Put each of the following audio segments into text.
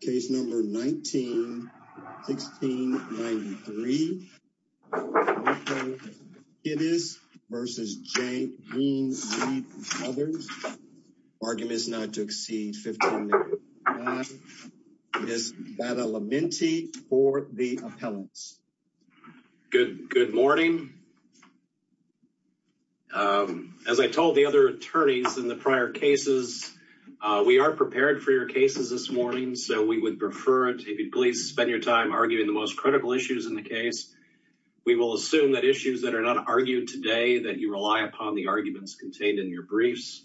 Case number 19-16-93. Kidis v. Jean Reid and others. Argument is not to exceed $15,000. Ms. Bata-Lamenti for the appellants. Good morning. As I told the other attorneys in the prior cases, we are prepared for your cases this morning, so we would prefer it if you'd please spend your time arguing the most critical issues in the case. We will assume that issues that are not argued today that you rely upon the arguments contained in your briefs.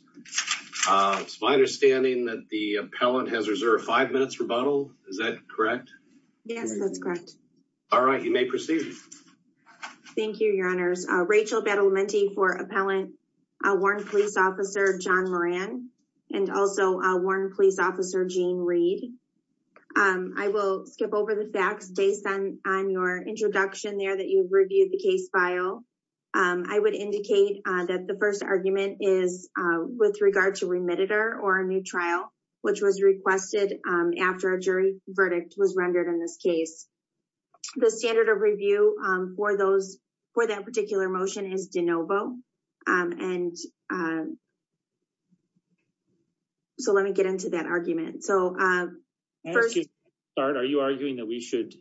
It's my understanding that the appellant has reserved five minutes rebuttal. Is that correct? Yes, that's correct. All right, you may proceed. Thank you, your honors. Rachel Bata-Lamenti for appellant. I'll warn police officer John Moran and also warn police officer Jean Reid. I will skip over the facts based on your introduction there that you've reviewed the case file. I would indicate that the first argument is with regard to remediator or a new trial, which was requested after a jury verdict was rendered in this case. The standard of review for that particular motion is de novo. And so let me get into that argument. Are you arguing that we should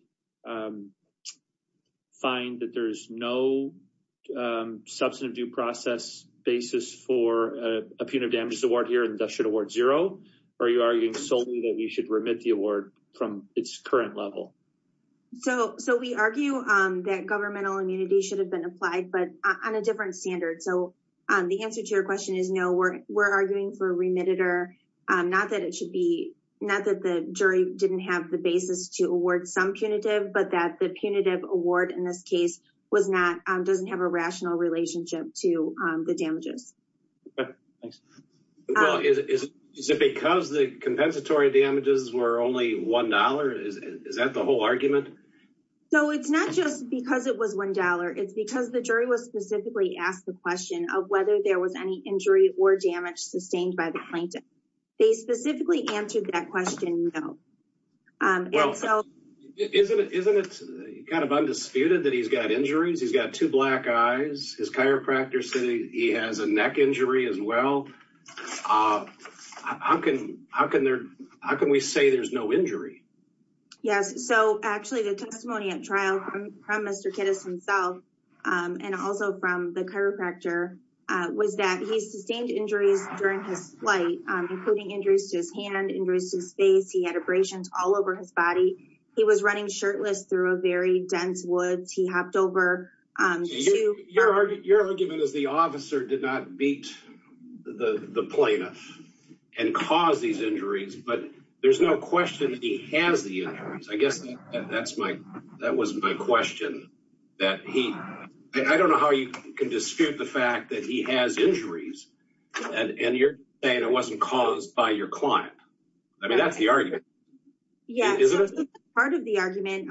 find that there's no substantive due process basis for a punitive damages award here and that should award zero? Or are you arguing solely that we should remit the award from its current level? So we argue that governmental immunity should have been applied, but on a different standard. So the answer to your question is no, we're arguing for remediator. Not that the jury didn't have the basis to award some punitive, but that the punitive award in this case doesn't have a rational relationship to the damages. Is it because the compensatory damages were only $1? Is that the whole argument? So it's not just because it was $1. It's because the jury was specifically asked the question of whether there was any injury or damage sustained by the plaintiff. They specifically answered that question. Isn't it kind of undisputed that he's got injuries? He's got two black eyes. His chiropractor said he has a neck injury as well. How can we say there's no injury? Yes. So actually the testimony at trial from Mr. Kittis himself and also from the chiropractor was that he sustained injuries during his flight, including injuries to his hand, injuries to his face. He had abrasions all over his body. He was running shirtless through a very dense woods. He hopped over. So your argument is the officer did not beat the plaintiff and cause these injuries, but there's no question that he has the injuries. I guess that was my question. I don't know how you can dispute the fact that he has injuries and you're saying it wasn't caused by your client. I mean, that's the argument. Yeah. Part of the argument.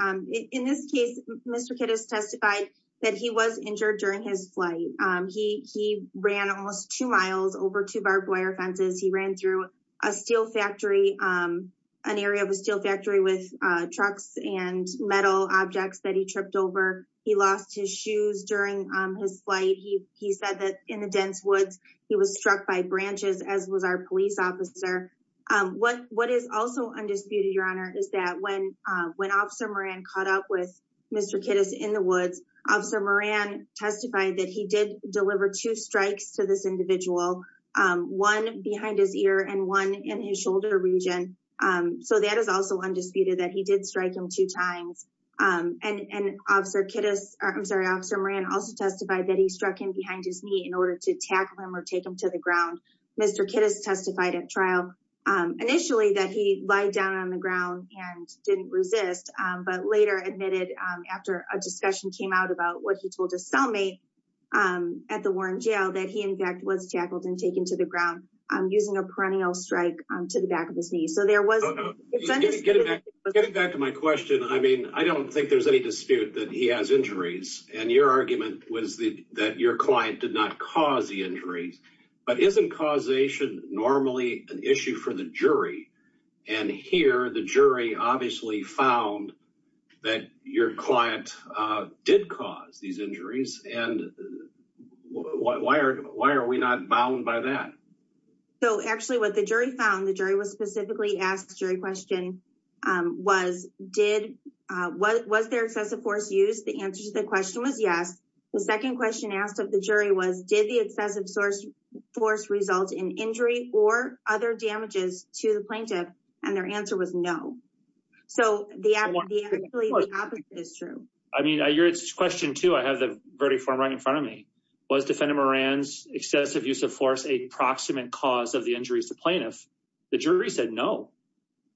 In this case, Mr. Kittis testified he was injured during his flight. He ran almost two miles over two barbed wire fences. He ran through a steel factory, an area of a steel factory with trucks and metal objects that he tripped over. He lost his shoes during his flight. He said that in the dense woods, he was struck by branches, as was our police officer. What is also undisputed, is that when officer Moran caught up with Mr. Kittis in the woods, officer Moran testified that he did deliver two strikes to this individual, one behind his ear and one in his shoulder region. So that is also undisputed that he did strike him two times. And officer Moran also testified that he struck him behind his knee in order to tackle him or take him to the ground. Mr. Kittis testified at trial initially that he lied down on the ground and didn't resist, but later admitted after a discussion came out about what he told his cellmate at the Warren jail, that he in fact was tackled and taken to the ground using a perennial strike to the back of his knee. So there was... Getting back to my question. I mean, I don't think there's any dispute that he has injuries and your argument was that your client did not cause the injuries, but isn't causation normally an issue for the jury? And here the jury obviously found that your client did cause these injuries. And why are we not bound by that? So actually what the jury found, the jury was specifically asked jury question was, was there excessive force used? The answer to the question was yes. The second question asked of the jury was, did the excessive force result in injury or other damages to the plaintiff? And their answer was no. So the actually opposite is true. I mean, your question too, I have the verdict form right in front of me. Was defendant Moran's excessive use of force a proximate cause of the injuries to plaintiff? The jury said no.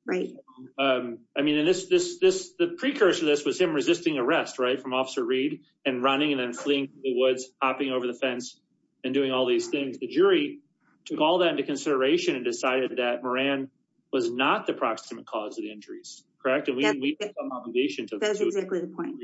Right. I mean, and this, this, this, the precursor to this was him resisting arrest, from officer Reed and running and then fleeing the woods, hopping over the fence and doing all these things. The jury took all that into consideration and decided that Moran was not the proximate cause of the injuries, correct? And we need some obligation to- That's exactly the point.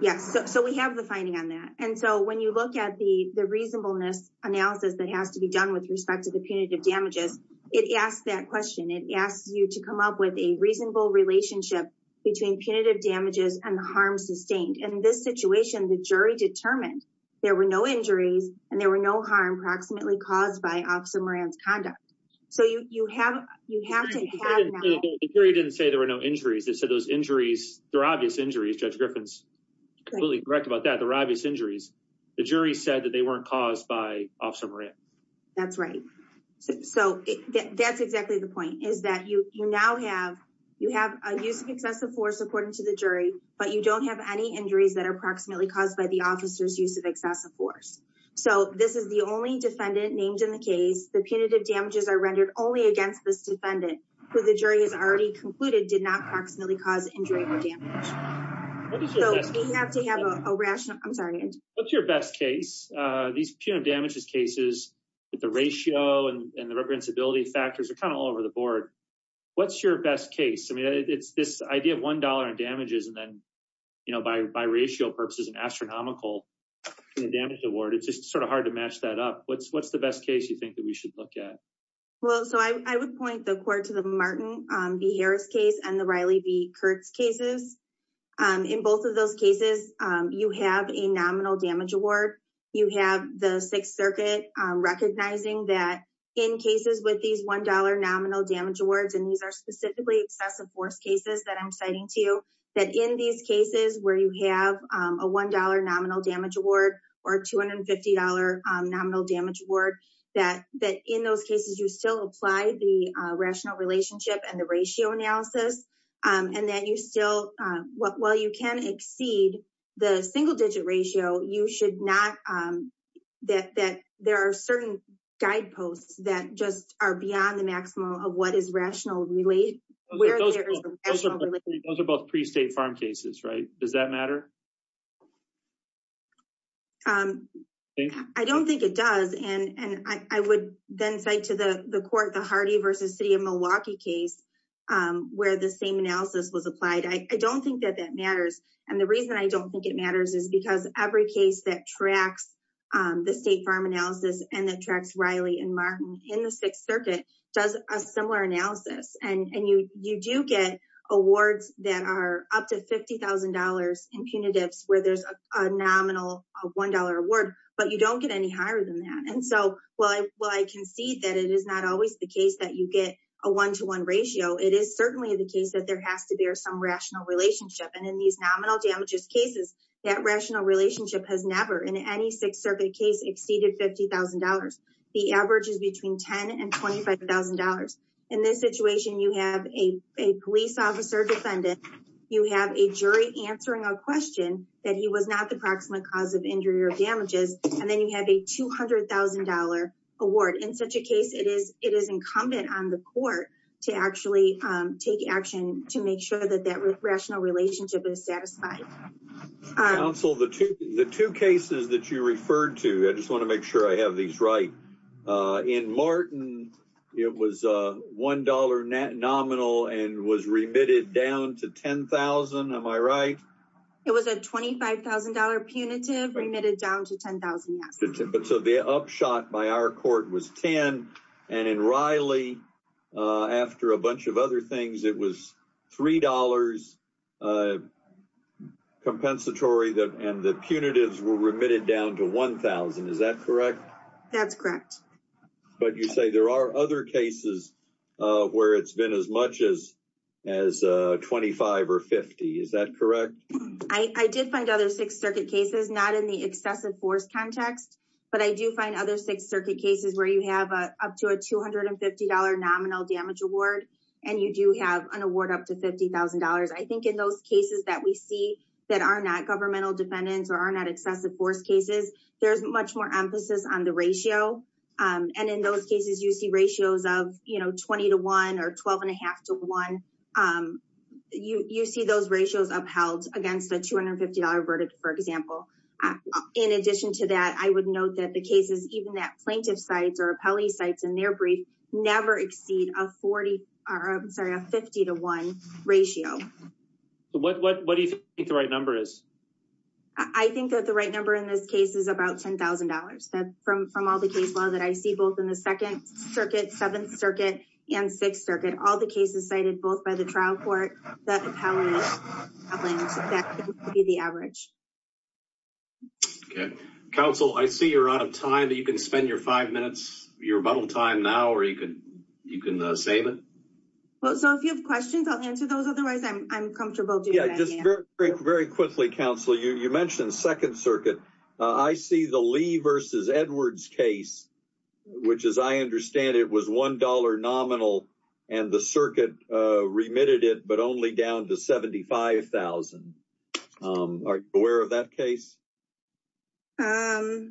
Yes. So we have the finding on that. And so when you look at the reasonableness analysis that has to be done with respect to the punitive damages, it asks that question. It asks you to come up with a reasonable relationship between punitive damages and the harm sustained. And in this situation, the jury determined there were no injuries and there were no harm proximately caused by officer Moran's conduct. So you, you have, you have to have- The jury didn't say there were no injuries. They said those injuries, they're obvious injuries. Judge Griffin's completely correct about that. They're obvious injuries. The jury said that they weren't caused by officer Moran. That's right. So that's exactly the point is that you, you now have, you have a use of excessive force according to the jury, but you don't have any injuries that are proximately caused by the officer's use of excessive force. So this is the only defendant named in the case. The punitive damages are rendered only against this defendant who the jury has already concluded did not proximately cause injury or damage. So we have to have a rational, I'm sorry. What's your best case? These punitive damages cases with the ratio and the reprehensibility factors are kind of all over the board. What's your best case? I mean, it's this idea of $1 in damages. And then, you know, by, by ratio purposes and astronomical damage award, it's just sort of hard to match that up. What's, what's the best case you think that we should look at? Well, so I would point the court to the Martin v. Harris case and the Riley v. Kurtz cases. In both of those cases, you have a nominal damage award. You have the Sixth Circuit recognizing that in cases with these $1 nominal damage awards, and these are specifically excessive force cases that I'm citing to you, that in these cases where you have a $1 nominal damage award or $250 nominal damage award, that, that in those cases, you still apply the rational relationship and the what, while you can exceed the single digit ratio, you should not, that, that there are certain guideposts that just are beyond the maximum of what is rational really. Those are both pre-state farm cases, right? Does that matter? I don't think it does. And, and I would then cite to the court, the Hardy v. City of Milwaukee case, where the same analysis was applied. I don't think that that matters. And the reason I don't think it matters is because every case that tracks the state farm analysis and that tracks Riley and Martin in the Sixth Circuit does a similar analysis. And you, you do get awards that are up to $50,000 in punitives where there's a nominal $1 award, but you don't get any higher than that. While I concede that it is not always the case that you get a one-to-one ratio, it is certainly the case that there has to be some rational relationship. And in these nominal damages cases, that rational relationship has never in any Sixth Circuit case exceeded $50,000. The average is between $10,000 and $25,000. In this situation, you have a police officer defendant. You have a jury answering a question that he was not the proximate cause of injury or damages. And then you have a $200,000 award. In such a case, it is incumbent on the court to actually take action to make sure that that rational relationship is satisfied. Counsel, the two cases that you referred to, I just want to make sure I have these right. In Martin, it was a $1 nominal and was remitted down to $10,000. Am I right? It was a $25,000 punitive remitted down to $10,000. So the upshot by our court was $10,000. And in Riley, after a bunch of other things, it was $3 compensatory and the punitives were remitted down to $1,000. Is that correct? That's correct. But you say there are other cases where it's been as much as $25,000 or $50,000. Is that correct? I did find other Sixth Circuit cases, not in the excessive force context, but I do find other Sixth Circuit cases where you have up to a $250 nominal damage award, and you do have an award up to $50,000. I think in those cases that we see that are not governmental defendants or are not excessive force cases, there's much more emphasis on the ratio. And in those cases, you see ratios of 20 to 1 or 12 and a half to 1. You see those ratios upheld against a $250 verdict, for example. In addition to that, I would note that the cases, even that plaintiff sites or appellee sites in their brief never exceed a 50 to 1 ratio. What do you think the right number is? I think that the right number in this case is about $10,000. From all the cases that I see, in the Second Circuit, Seventh Circuit, and Sixth Circuit, all the cases cited both by the trial court, the appellant, that would be the average. Okay. Counsel, I see you're out of time. You can spend your five minutes, your bundle time now, or you can save it. So if you have questions, I'll answer those. Otherwise, I'm comfortable doing that again. Yeah, just very quickly, Counsel, you mentioned Second Circuit. I see the Lee v. Edwards case. As I understand it, it was $1 nominal and the circuit remitted it, but only down to $75,000. Are you aware of that case? Let me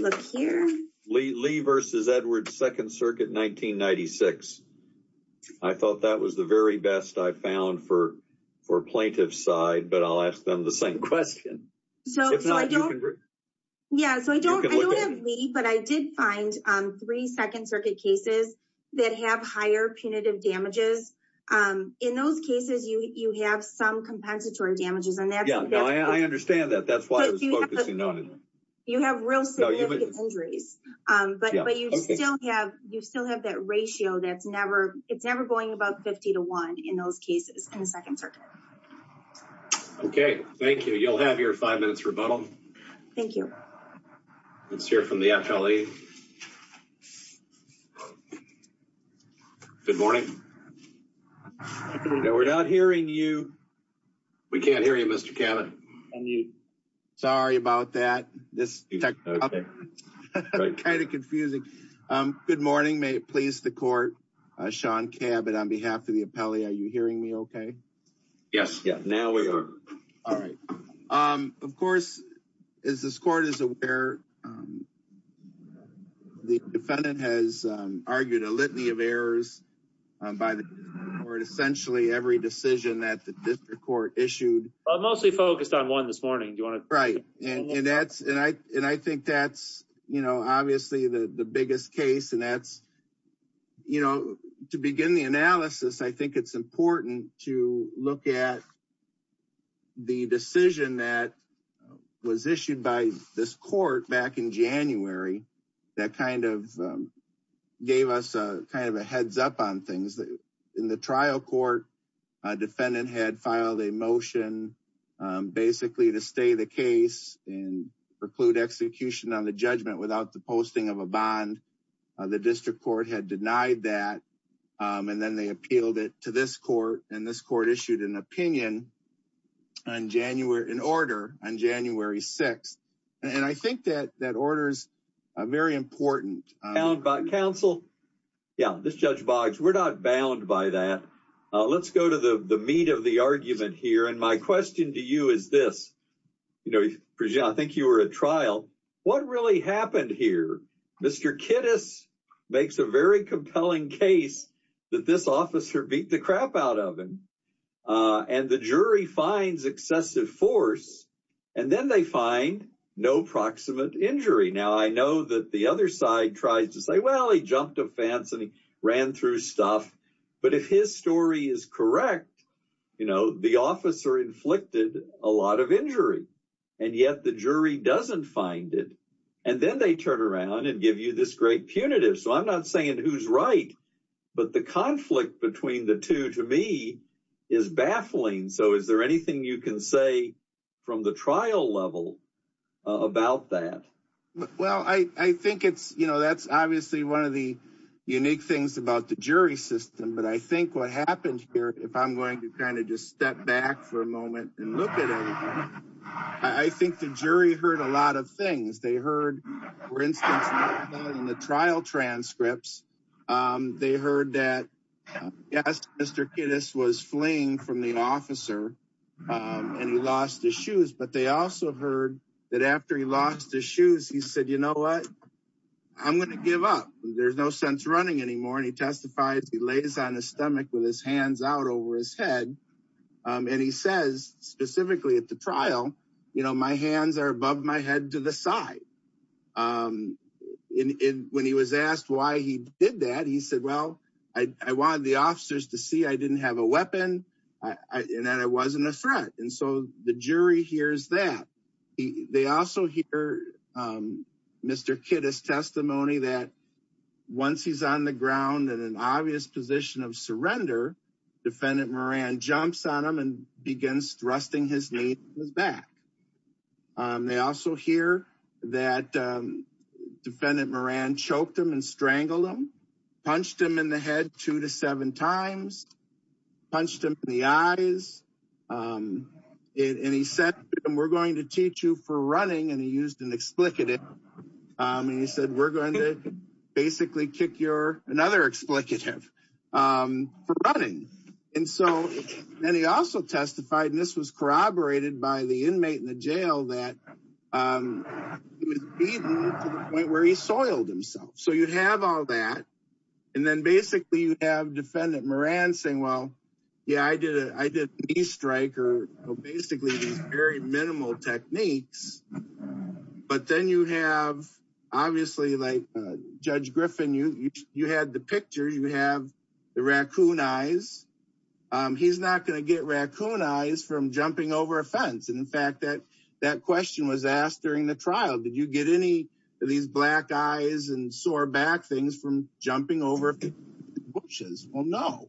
look here. Lee v. Edwards, Second Circuit, 1996. I thought that was the very best I found for plaintiff's side, but I'll ask them the same question. If not, you can look at it. Yeah, so I don't have Lee, but I did find three Second Circuit cases that have higher punitive damages. In those cases, you have some compensatory damages. Yeah, I understand that. That's why I was focusing on it. You have real significant injuries, but you still have that ratio that's never going about 50 to 1 in those cases in the Second Circuit. Okay, thank you. You'll have your five minutes for a bundle. Thank you. Let's hear from the appellee. Good morning. No, we're not hearing you. We can't hear you, Mr. Cabot. Sorry about that. This is kind of confusing. Good morning. May it please the court. Sean Cabot, on behalf of the appellee, are you hearing me okay? Yes, yeah, now we are. All right. Of course, as this court is aware, the defendant has argued a litany of errors by the court, essentially every decision that the district court issued. I'm mostly focused on one this morning. Do you want to- Right, and I think that's obviously the biggest case. To begin the analysis, I think it's the decision that was issued by this court back in January that kind of gave us a kind of a heads up on things. In the trial court, a defendant had filed a motion basically to stay the case and preclude execution on the judgment without the posting of a bond. The district court had denied that, and then they appealed it to this court, and this court issued an opinion in order on January 6th. I think that order is very important. Counsel, yeah, this is Judge Boggs. We're not bound by that. Let's go to the meat of the argument here, and my question to you is this. I think you were at trial. What really happened here? Mr. Kittis makes a very compelling case that this officer beat the crap out of him, and the jury finds excessive force, and then they find no proximate injury. Now, I know that the other side tries to say, well, he jumped a fence and he ran through stuff, but if his story is correct, the officer inflicted a lot of injury, and yet the jury doesn't find it, and then they turn punitive. So I'm not saying who's right, but the conflict between the two to me is baffling. So is there anything you can say from the trial level about that? Well, I think that's obviously one of the unique things about the jury system, but I think what happened here, if I'm going to kind of just step back for a moment and look at I think the jury heard a lot of things. They heard, for instance, in the trial transcripts, they heard that yes, Mr. Kittis was fleeing from the officer and he lost his shoes, but they also heard that after he lost his shoes, he said, you know what? I'm going to give up. There's no sense running anymore, and he testifies. He lays on his stomach with his hands out over his head, and he says specifically at the trial, you know, my hands are above my head to the side. When he was asked why he did that, he said, well, I wanted the officers to see I didn't have a weapon and that I wasn't a threat, and so the jury hears that. They also hear Mr. Kittis' testimony that once he's on the ground in an obvious position of surrender, Defendant Moran jumps on him and begins thrusting his knee in his back. They also hear that Defendant Moran choked him and strangled him, punched him in the head two to seven times, punched him in the eyes, and he said, we're going to teach you for running, and he used an basically kick your another explicative for running, and he also testified, and this was corroborated by the inmate in the jail, that he was beaten to the point where he soiled himself, so you have all that, and then basically you have Defendant Moran saying, well, yeah, I did a knee strike or basically these very minimal techniques, but then you have obviously, like Judge Griffin, you had the picture. You have the raccoon eyes. He's not going to get raccoon eyes from jumping over a fence, and in fact, that question was asked during the trial. Did you get any of these black eyes and sore back things from jumping over bushes? Well, no,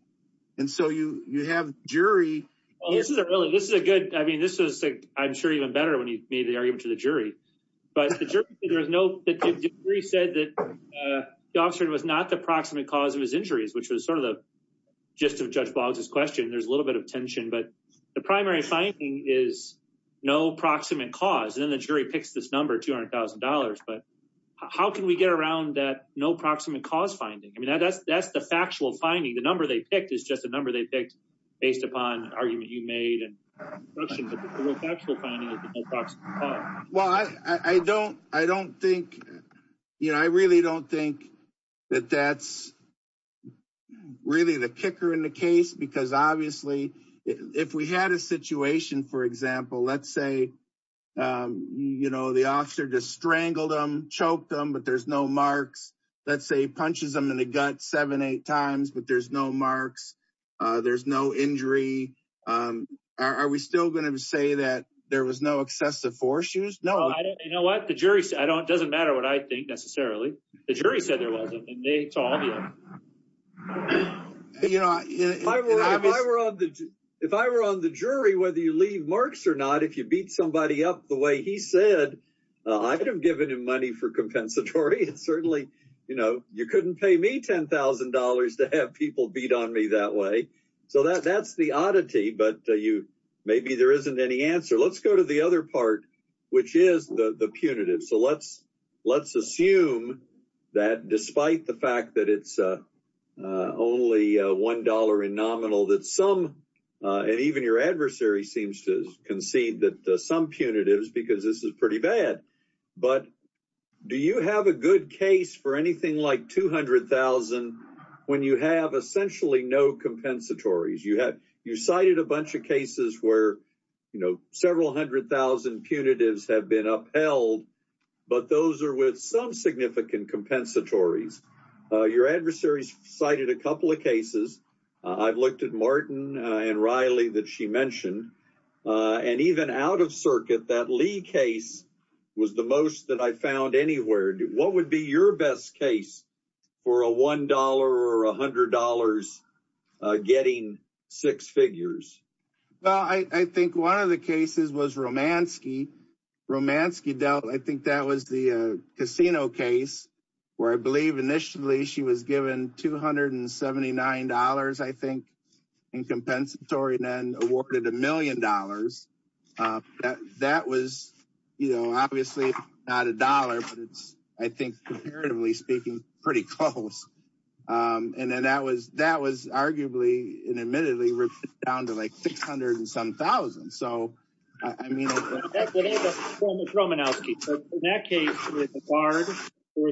and so you have jury. Well, this is a really, this is a good, I mean, this is, I'm sure, when he made the argument to the jury, but the jury said that the officer was not the proximate cause of his injuries, which was sort of the gist of Judge Boggs' question. There's a little bit of tension, but the primary finding is no proximate cause, and then the jury picks this number, $200,000, but how can we get around that no proximate cause finding? I mean, that's the factual finding. The number they picked is just a number they picked based upon argument you made, but the factual finding is the no proximate cause. Well, I don't think, you know, I really don't think that that's really the kicker in the case, because obviously, if we had a situation, for example, let's say, you know, the officer just strangled him, choked him, but there's no marks. Let's say he punches him in the gut seven, eight times, but there's no marks. There's no injury. Are we still going to say that there was no excessive force used? No. You know what? The jury said, it doesn't matter what I think, necessarily. The jury said there wasn't, and they told you. You know, if I were on the jury, whether you leave marks or not, if you beat somebody up the way he said, I'd have given him money for people to beat on me that way. So that's the oddity, but maybe there isn't any answer. Let's go to the other part, which is the punitive. So let's assume that despite the fact that it's only $1 in nominal that some, and even your adversary seems to concede that some punitives, because this is pretty bad, but do you have a good case for anything like $200,000 when you have essentially no compensatories? You cited a bunch of cases where, you know, several hundred thousand punitives have been upheld, but those are with some significant compensatories. Your adversaries cited a couple of cases. I've looked at Martin and Riley that she mentioned, and even out of circuit, that Lee case was the most that I found anywhere. What would be your best case for a $1 or $100 getting six figures? Well, I think one of the cases was Romanski. Romanski dealt, I think that was the casino case where I believe initially she was given $279, I think, and compensatory then awarded a million dollars. That was, you know, obviously not a dollar, but it's, I think, comparatively speaking, pretty close. And then that was arguably, and admittedly, down to like 600 and some thousand. So, I mean... Romanowski. In that case, it was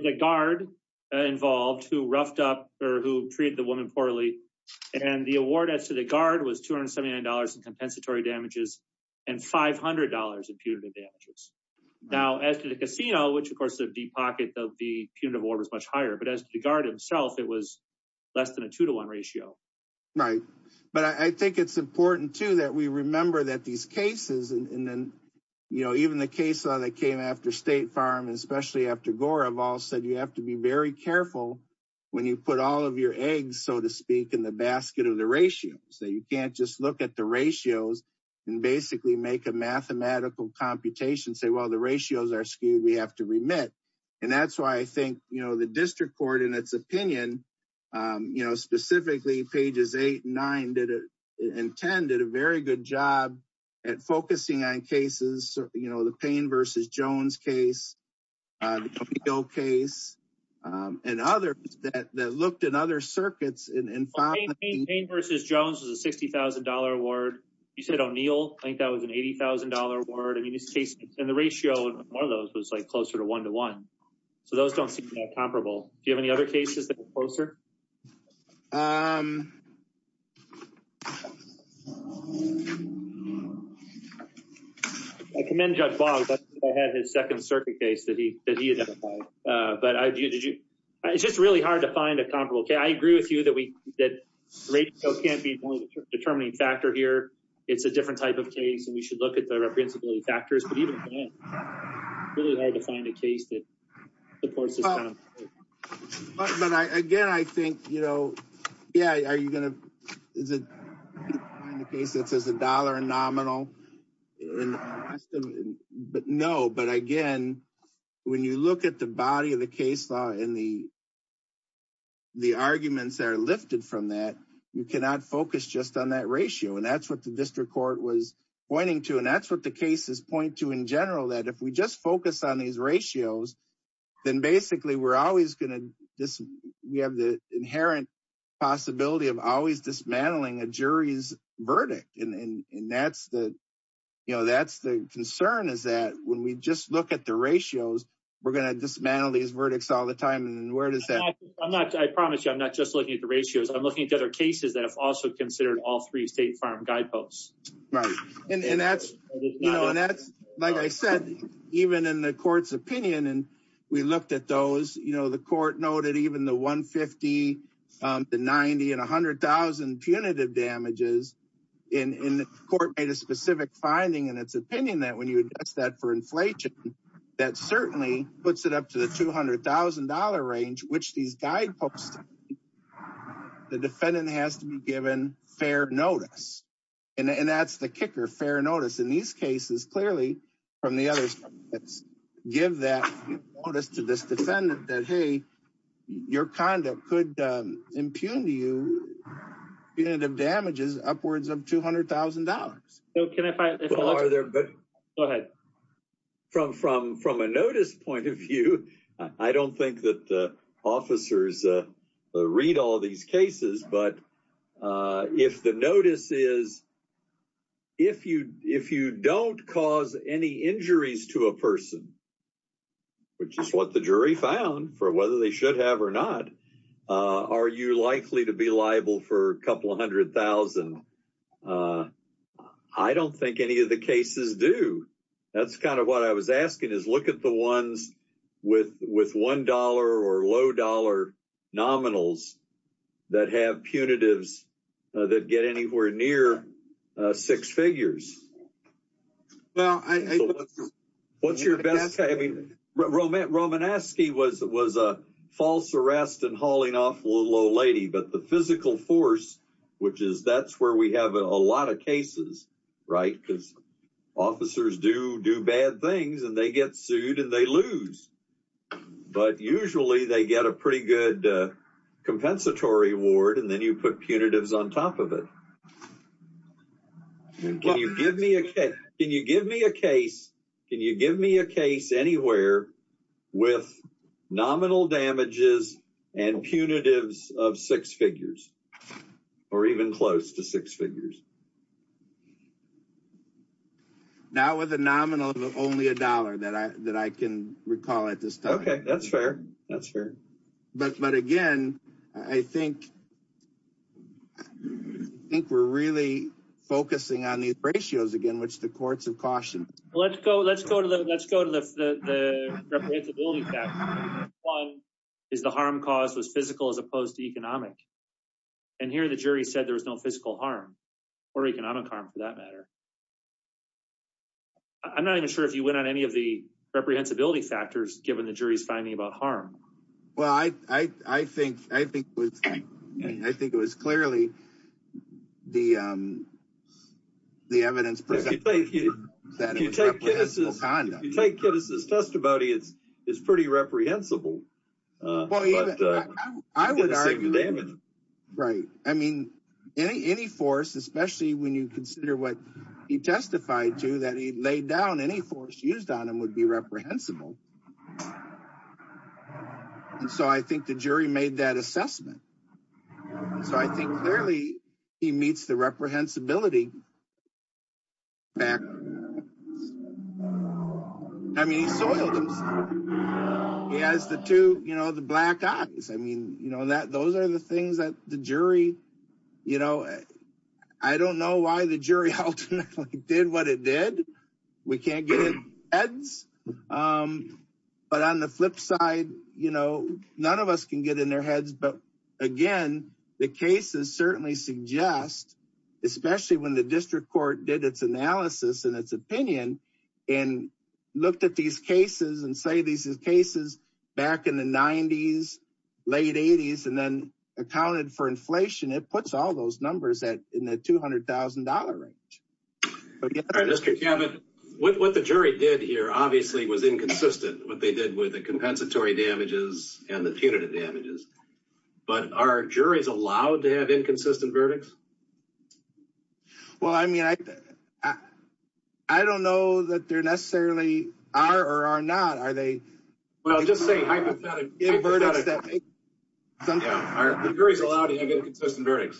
the guard involved who roughed up or who treated the woman poorly. And the award as to the guard was $279 in compensatory damages and $500 in punitive damages. Now, as to the casino, which of course the deep pocket of the punitive award was much higher, but as to the guard himself, it was less than a two-to-one ratio. Right. But I think it's important too that we remember that these cases, and then, you know, even the case that came after State Farm, especially after Gore, have all said you have to be very careful when you put all of your eggs, so to speak, in the basket of the ratios. That you can't just look at the ratios and basically make a mathematical computation and say, well, the ratios are skewed, we have to remit. And that's why I think, you know, the district court in its opinion, you know, specifically pages eight and nine and ten did a very good job at focusing on cases, you know, the Payne v. Jones case, the Capito case, and others that looked at other circuits. Payne v. Jones was a $60,000 award. You said O'Neill, I think that was an $80,000 award. I mean, in this case, and the ratio of one of those was like closer to one-to-one, so those don't seem that comparable. Do you have any other cases that were closer? I commend Judge Boggs. I think I had his second circuit case that he identified. But it's just really hard to find a comparable case. I agree with you that the ratio can't be the determining factor here. It's a different type of case, and we should look at the reprehensibility factors, but even then, it's really hard to find a case that supports this kind of thing. But again, I think, you know, yeah, are you going to find a case that says a dollar in nominal? No, but again, when you look at the body of the case law and the arguments that are lifted from that, you cannot focus just on that ratio. And that's what the in general that if we just focus on these ratios, then basically we're always going to, we have the inherent possibility of always dismantling a jury's verdict. And that's the, you know, that's the concern is that when we just look at the ratios, we're going to dismantle these verdicts all the time. And where does that? I'm not, I promise you, I'm not just looking at the ratios. I'm looking at other cases that have also considered all three state farm guideposts. Right. And that's, you know, and that's, like I said, even in the court's opinion, and we looked at those, you know, the court noted even the 150, the 90 and 100,000 punitive damages in court made a specific finding in its opinion that when you address that for inflation, that certainly puts it up to the $200,000 range, which these guideposts, the defendant has to be given fair notice. And that's the kicker fair notice in these cases, clearly, from the others, let's give that notice to this defendant that, hey, your conduct could impugn you, you know, the damages upwards of $200,000. So can I, from a notice point of view, I don't think that the officers read all these cases. But if the notice is, if you don't cause any injuries to a person, which is what the jury found for whether they should have or not, are you likely to be liable for a couple of hundred thousand? I don't think any of the cases do. That's kind of what I was asking is look at the ones with $1 or low dollar nominals that have punitives that get anywhere near six figures. Well, I, what's your best, I mean, Romaneski was a false arrest and hauling off low lady, but the physical force, which is that's where we have a lot of cases, right? Because officers do do bad things and they get sued and they lose, but usually they get a pretty good compensatory award and then you put punitives on top of it. Can you give me a case? Can you give me a case? Can you give me a case anywhere with nominal damages and punitives of six figures or even close to six figures? Now with a nominal of only a dollar that I, that I can recall at this time. Okay. That's fair. That's fair. But, but again, I think, I think we're really focusing on these ratios again, which the courts have cautioned. Let's go, let's go to the, let's go to the, the, the representability. Is the harm cause was physical as opposed to economic. And here the jury said there was no physical harm or economic harm for that matter. I'm not even sure if you went on any of the reprehensibility factors, given the jury's finding about harm. Well, I, I, I think, I think it was, I think it was clearly the, the evidence. You take Kittis' testimony, it's, it's pretty reprehensible. Right. I mean, any, any force, especially when you consider what he testified to that he laid down, any force used on him would be reprehensible. And so I think the jury made that assessment. So I think clearly he meets the reprehensibility. I mean, he soiled himself. He has the two, you know, the black eyes. I mean, you know, that those are the things that the jury, you know, I don't know why the jury did what it did. We can't get it heads. But on the flip side, you know, none of us can get in their heads. But again, the cases certainly suggest, especially when the district court did its analysis and its opinion and looked at these cases and say, these cases back in the nineties, late eighties, and then accounted for inflation. It puts all those numbers at in the $200,000 range. All right, Mr. Cabot, what, what the jury did here obviously was inconsistent, what they did with the compensatory damages and the punitive damages, but are juries allowed to have inconsistent verdicts? Well, I mean, I, I don't know that they're necessarily are or are not. Are they, well, just say hypothetically. The jury's allowed to have inconsistent verdicts.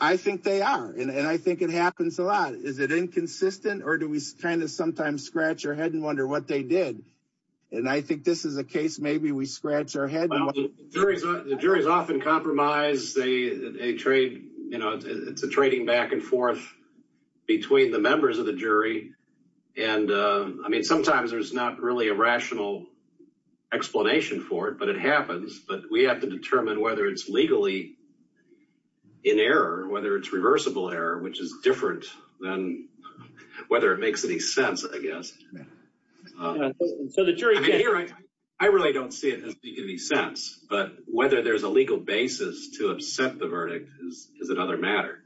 I think they are. And I think it happens a lot. Is it inconsistent or do we kind of sometimes scratch your head and wonder what they did? And I think this is a case, maybe we scratch our head. The jury's often compromised. They trade, you know, it's a trading back and forth between the members of the jury. And I mean, sometimes there's not really a rational explanation for it, but it happens. But we have to determine whether it's legally in error, whether it's reversible error, which is different than whether it makes any sense, I guess. I really don't see it as making any sense, but whether there's a legal basis to upset the verdict is another matter.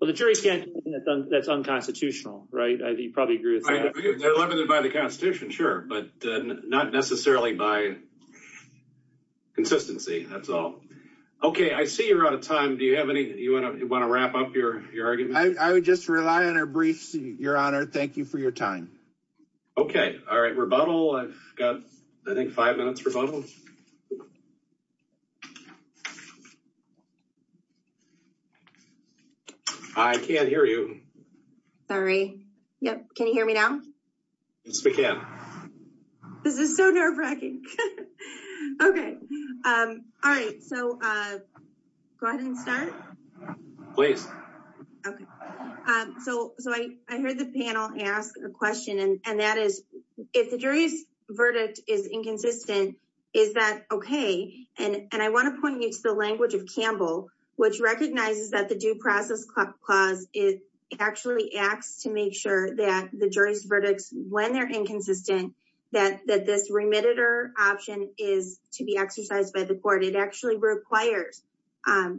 Well, the jury can't, that's unconstitutional, right? You probably agree with that. They're limited by the constitution, sure, but not necessarily by consistency. That's all. Okay. I see you're out of time. Do you have any, you want to wrap up your argument? I would just rely on our briefs, your honor. Thank you for your time. Okay. All right. Rebuttal. I've got, I think five minutes rebuttal. I can't hear you. Sorry. Yep. Can you hear me now? Yes, we can. This is so nerve wracking. Okay. All right. So go ahead and start. Please. Okay. So I heard the panel ask a question and that is, if the jury's verdict is inconsistent, is that okay? And I want to point you to the language of Campbell, which recognizes that the due process clause, it actually acts to make sure that the jury's verdicts, when they're inconsistent, that, that this remitted or option is to be exercised by the court. It actually requires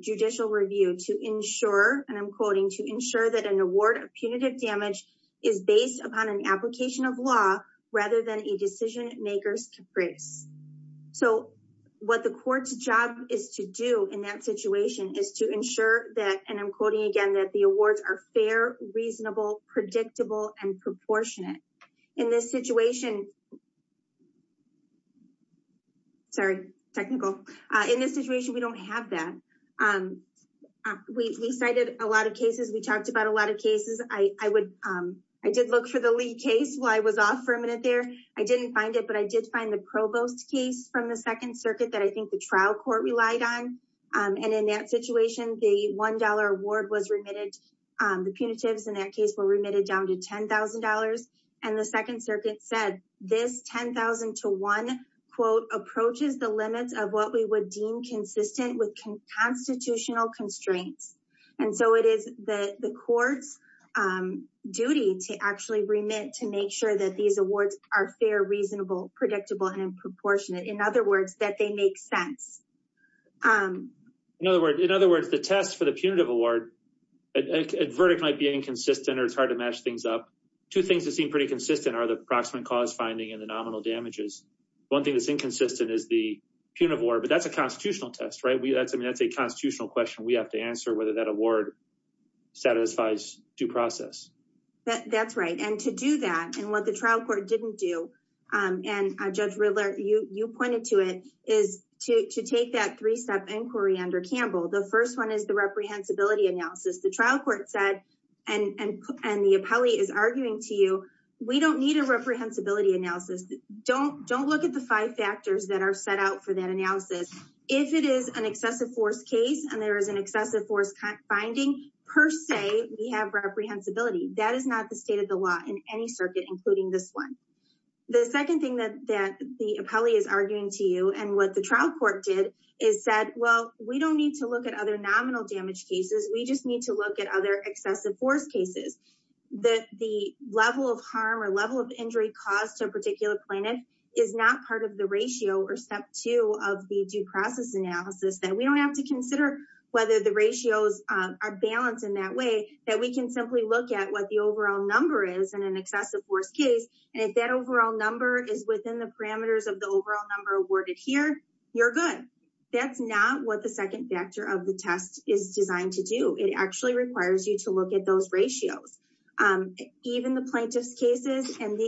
judicial review to ensure, and I'm quoting to ensure that an award of punitive damage is based upon an application of law rather than a decision makers to grace. So what the court's job is to do in that situation is to ensure that, and I'm quoting again, that the awards are fair, reasonable, predictable, and proportionate in this situation. Sorry, technical. In this situation, we don't have that. We cited a lot of cases. We talked about a lot of cases. I would, I did look for the Lee case while I was off for a minute there. I didn't find it, but I did find the provost case from the second circuit that I think the trial court relied on. And in that situation, the $1 award was remitted. The punitives in that case were remitted down to $10,000. And the second circuit said this 10,000 to one quote approaches the limits of what we would deem consistent with constitutional constraints. And so it is the court's duty to actually remit to make sure that these awards are fair, reasonable, predictable, and proportionate. In other words, that they make sense. In other words, the test for the punitive award, a verdict might be inconsistent or it's hard to match things up. Two things that seem pretty consistent are the approximate cause finding and the nominal damages. One thing that's inconsistent is the punitive award, but that's a constitutional test, right? I mean, that's a constitutional question we have to answer whether that award satisfies due process. That's right. And to do that and what the trial court didn't do, and Judge Riddler, you pointed to it, is to take that three-step inquiry under Campbell. The first one is the reprehensibility analysis. The trial court said, and the appellee is arguing to you, we don't need a reprehensibility analysis. Don't look at the five factors that are set out for that finding per se. We have reprehensibility. That is not the state of the law in any circuit, including this one. The second thing that the appellee is arguing to you and what the trial court did is said, well, we don't need to look at other nominal damage cases. We just need to look at other excessive force cases. The level of harm or level of injury caused to a particular plaintiff is not part of the ratio or step two of the due process analysis that we don't have to consider whether the ratios are balanced in that way, that we can simply look at what the overall number is in an excessive force case. And if that overall number is within the parameters of the overall number awarded here, you're good. That's not what the second factor of the test is designed to do. It actually requires you to look at those ratios. Even the plaintiff's cases, and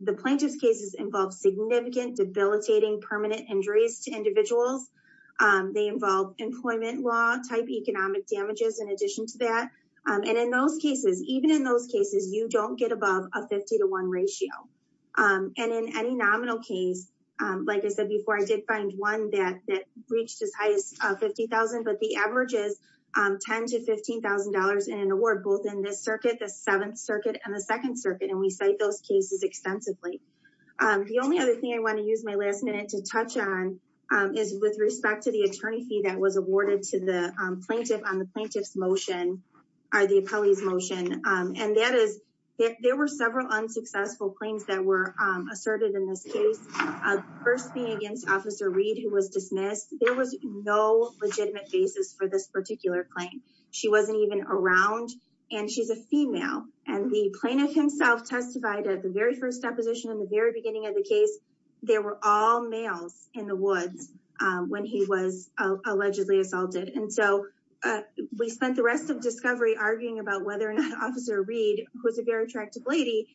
the plaintiff's cases involve significant debilitating permanent injuries to individuals. They involve employment law type economic damages in addition to that. And in those cases, even in those cases, you don't get above a 50 to one ratio. And in any nominal case, like I said before, I did find one that reached as high as 50,000, but the average is 10 to $15,000 in an award, both in this circuit, the seventh circuit and the second circuit. And we cite those cases extensively. The only other thing I want to use my last minute to touch on is with respect to the attorney fee that was awarded plaintiff on the plaintiff's motion, or the appellee's motion. And that is, there were several unsuccessful claims that were asserted in this case. First being against officer Reed, who was dismissed. There was no legitimate basis for this particular claim. She wasn't even around, and she's a female. And the plaintiff himself testified at the very first deposition in the very beginning of the case. There were all males in the woods when he was allegedly assaulted. And so we spent the rest of discovery arguing about whether or not officer Reed, who was a very attractive lady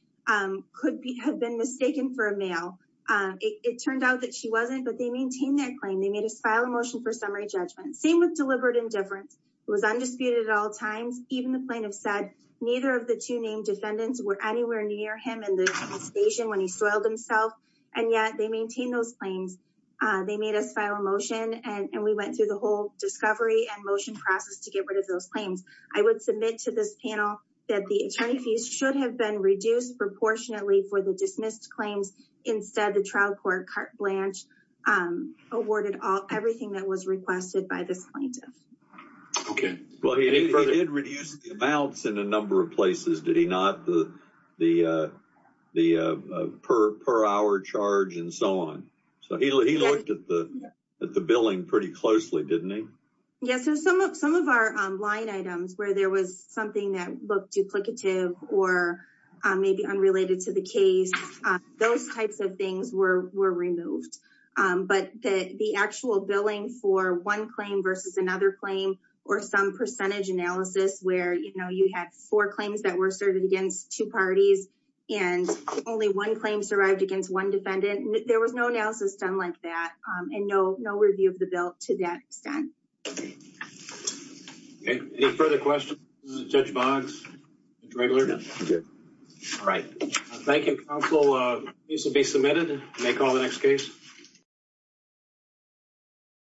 could be have been mistaken for a male. It turned out that she wasn't, but they maintained that claim. They made a file a motion for summary judgment, same with deliberate indifference. It was undisputed at all times. Even the plaintiff said, neither of the two named defendants were anywhere near him in the station when he soiled himself. And yet they maintained those claims. They made us file a motion, and we went through the whole discovery and motion process to get rid of those claims. I would submit to this panel that the attorney fees should have been reduced proportionately for the dismissed claims. Instead, the trial court carte blanche awarded all everything that was requested by this plaintiff. Okay. Well, he did reduce the amounts in a number of places, did he not? The per hour charge and so on. So he looked at the billing pretty closely, didn't he? Yes. So some of our line items where there was something that looked duplicative or maybe unrelated to the case, those types of things were removed. But the actual billing for one claim versus another claim or some percentage analysis where, you know, you had four claims that were asserted against two parties and only one claim survived against one defendant, there was no analysis done like that and no review of the bill to that extent. Okay. Any further questions? Judge Boggs? Judge Wraggler? All right. Thank you, counsel. These will be submitted. You may call the next case.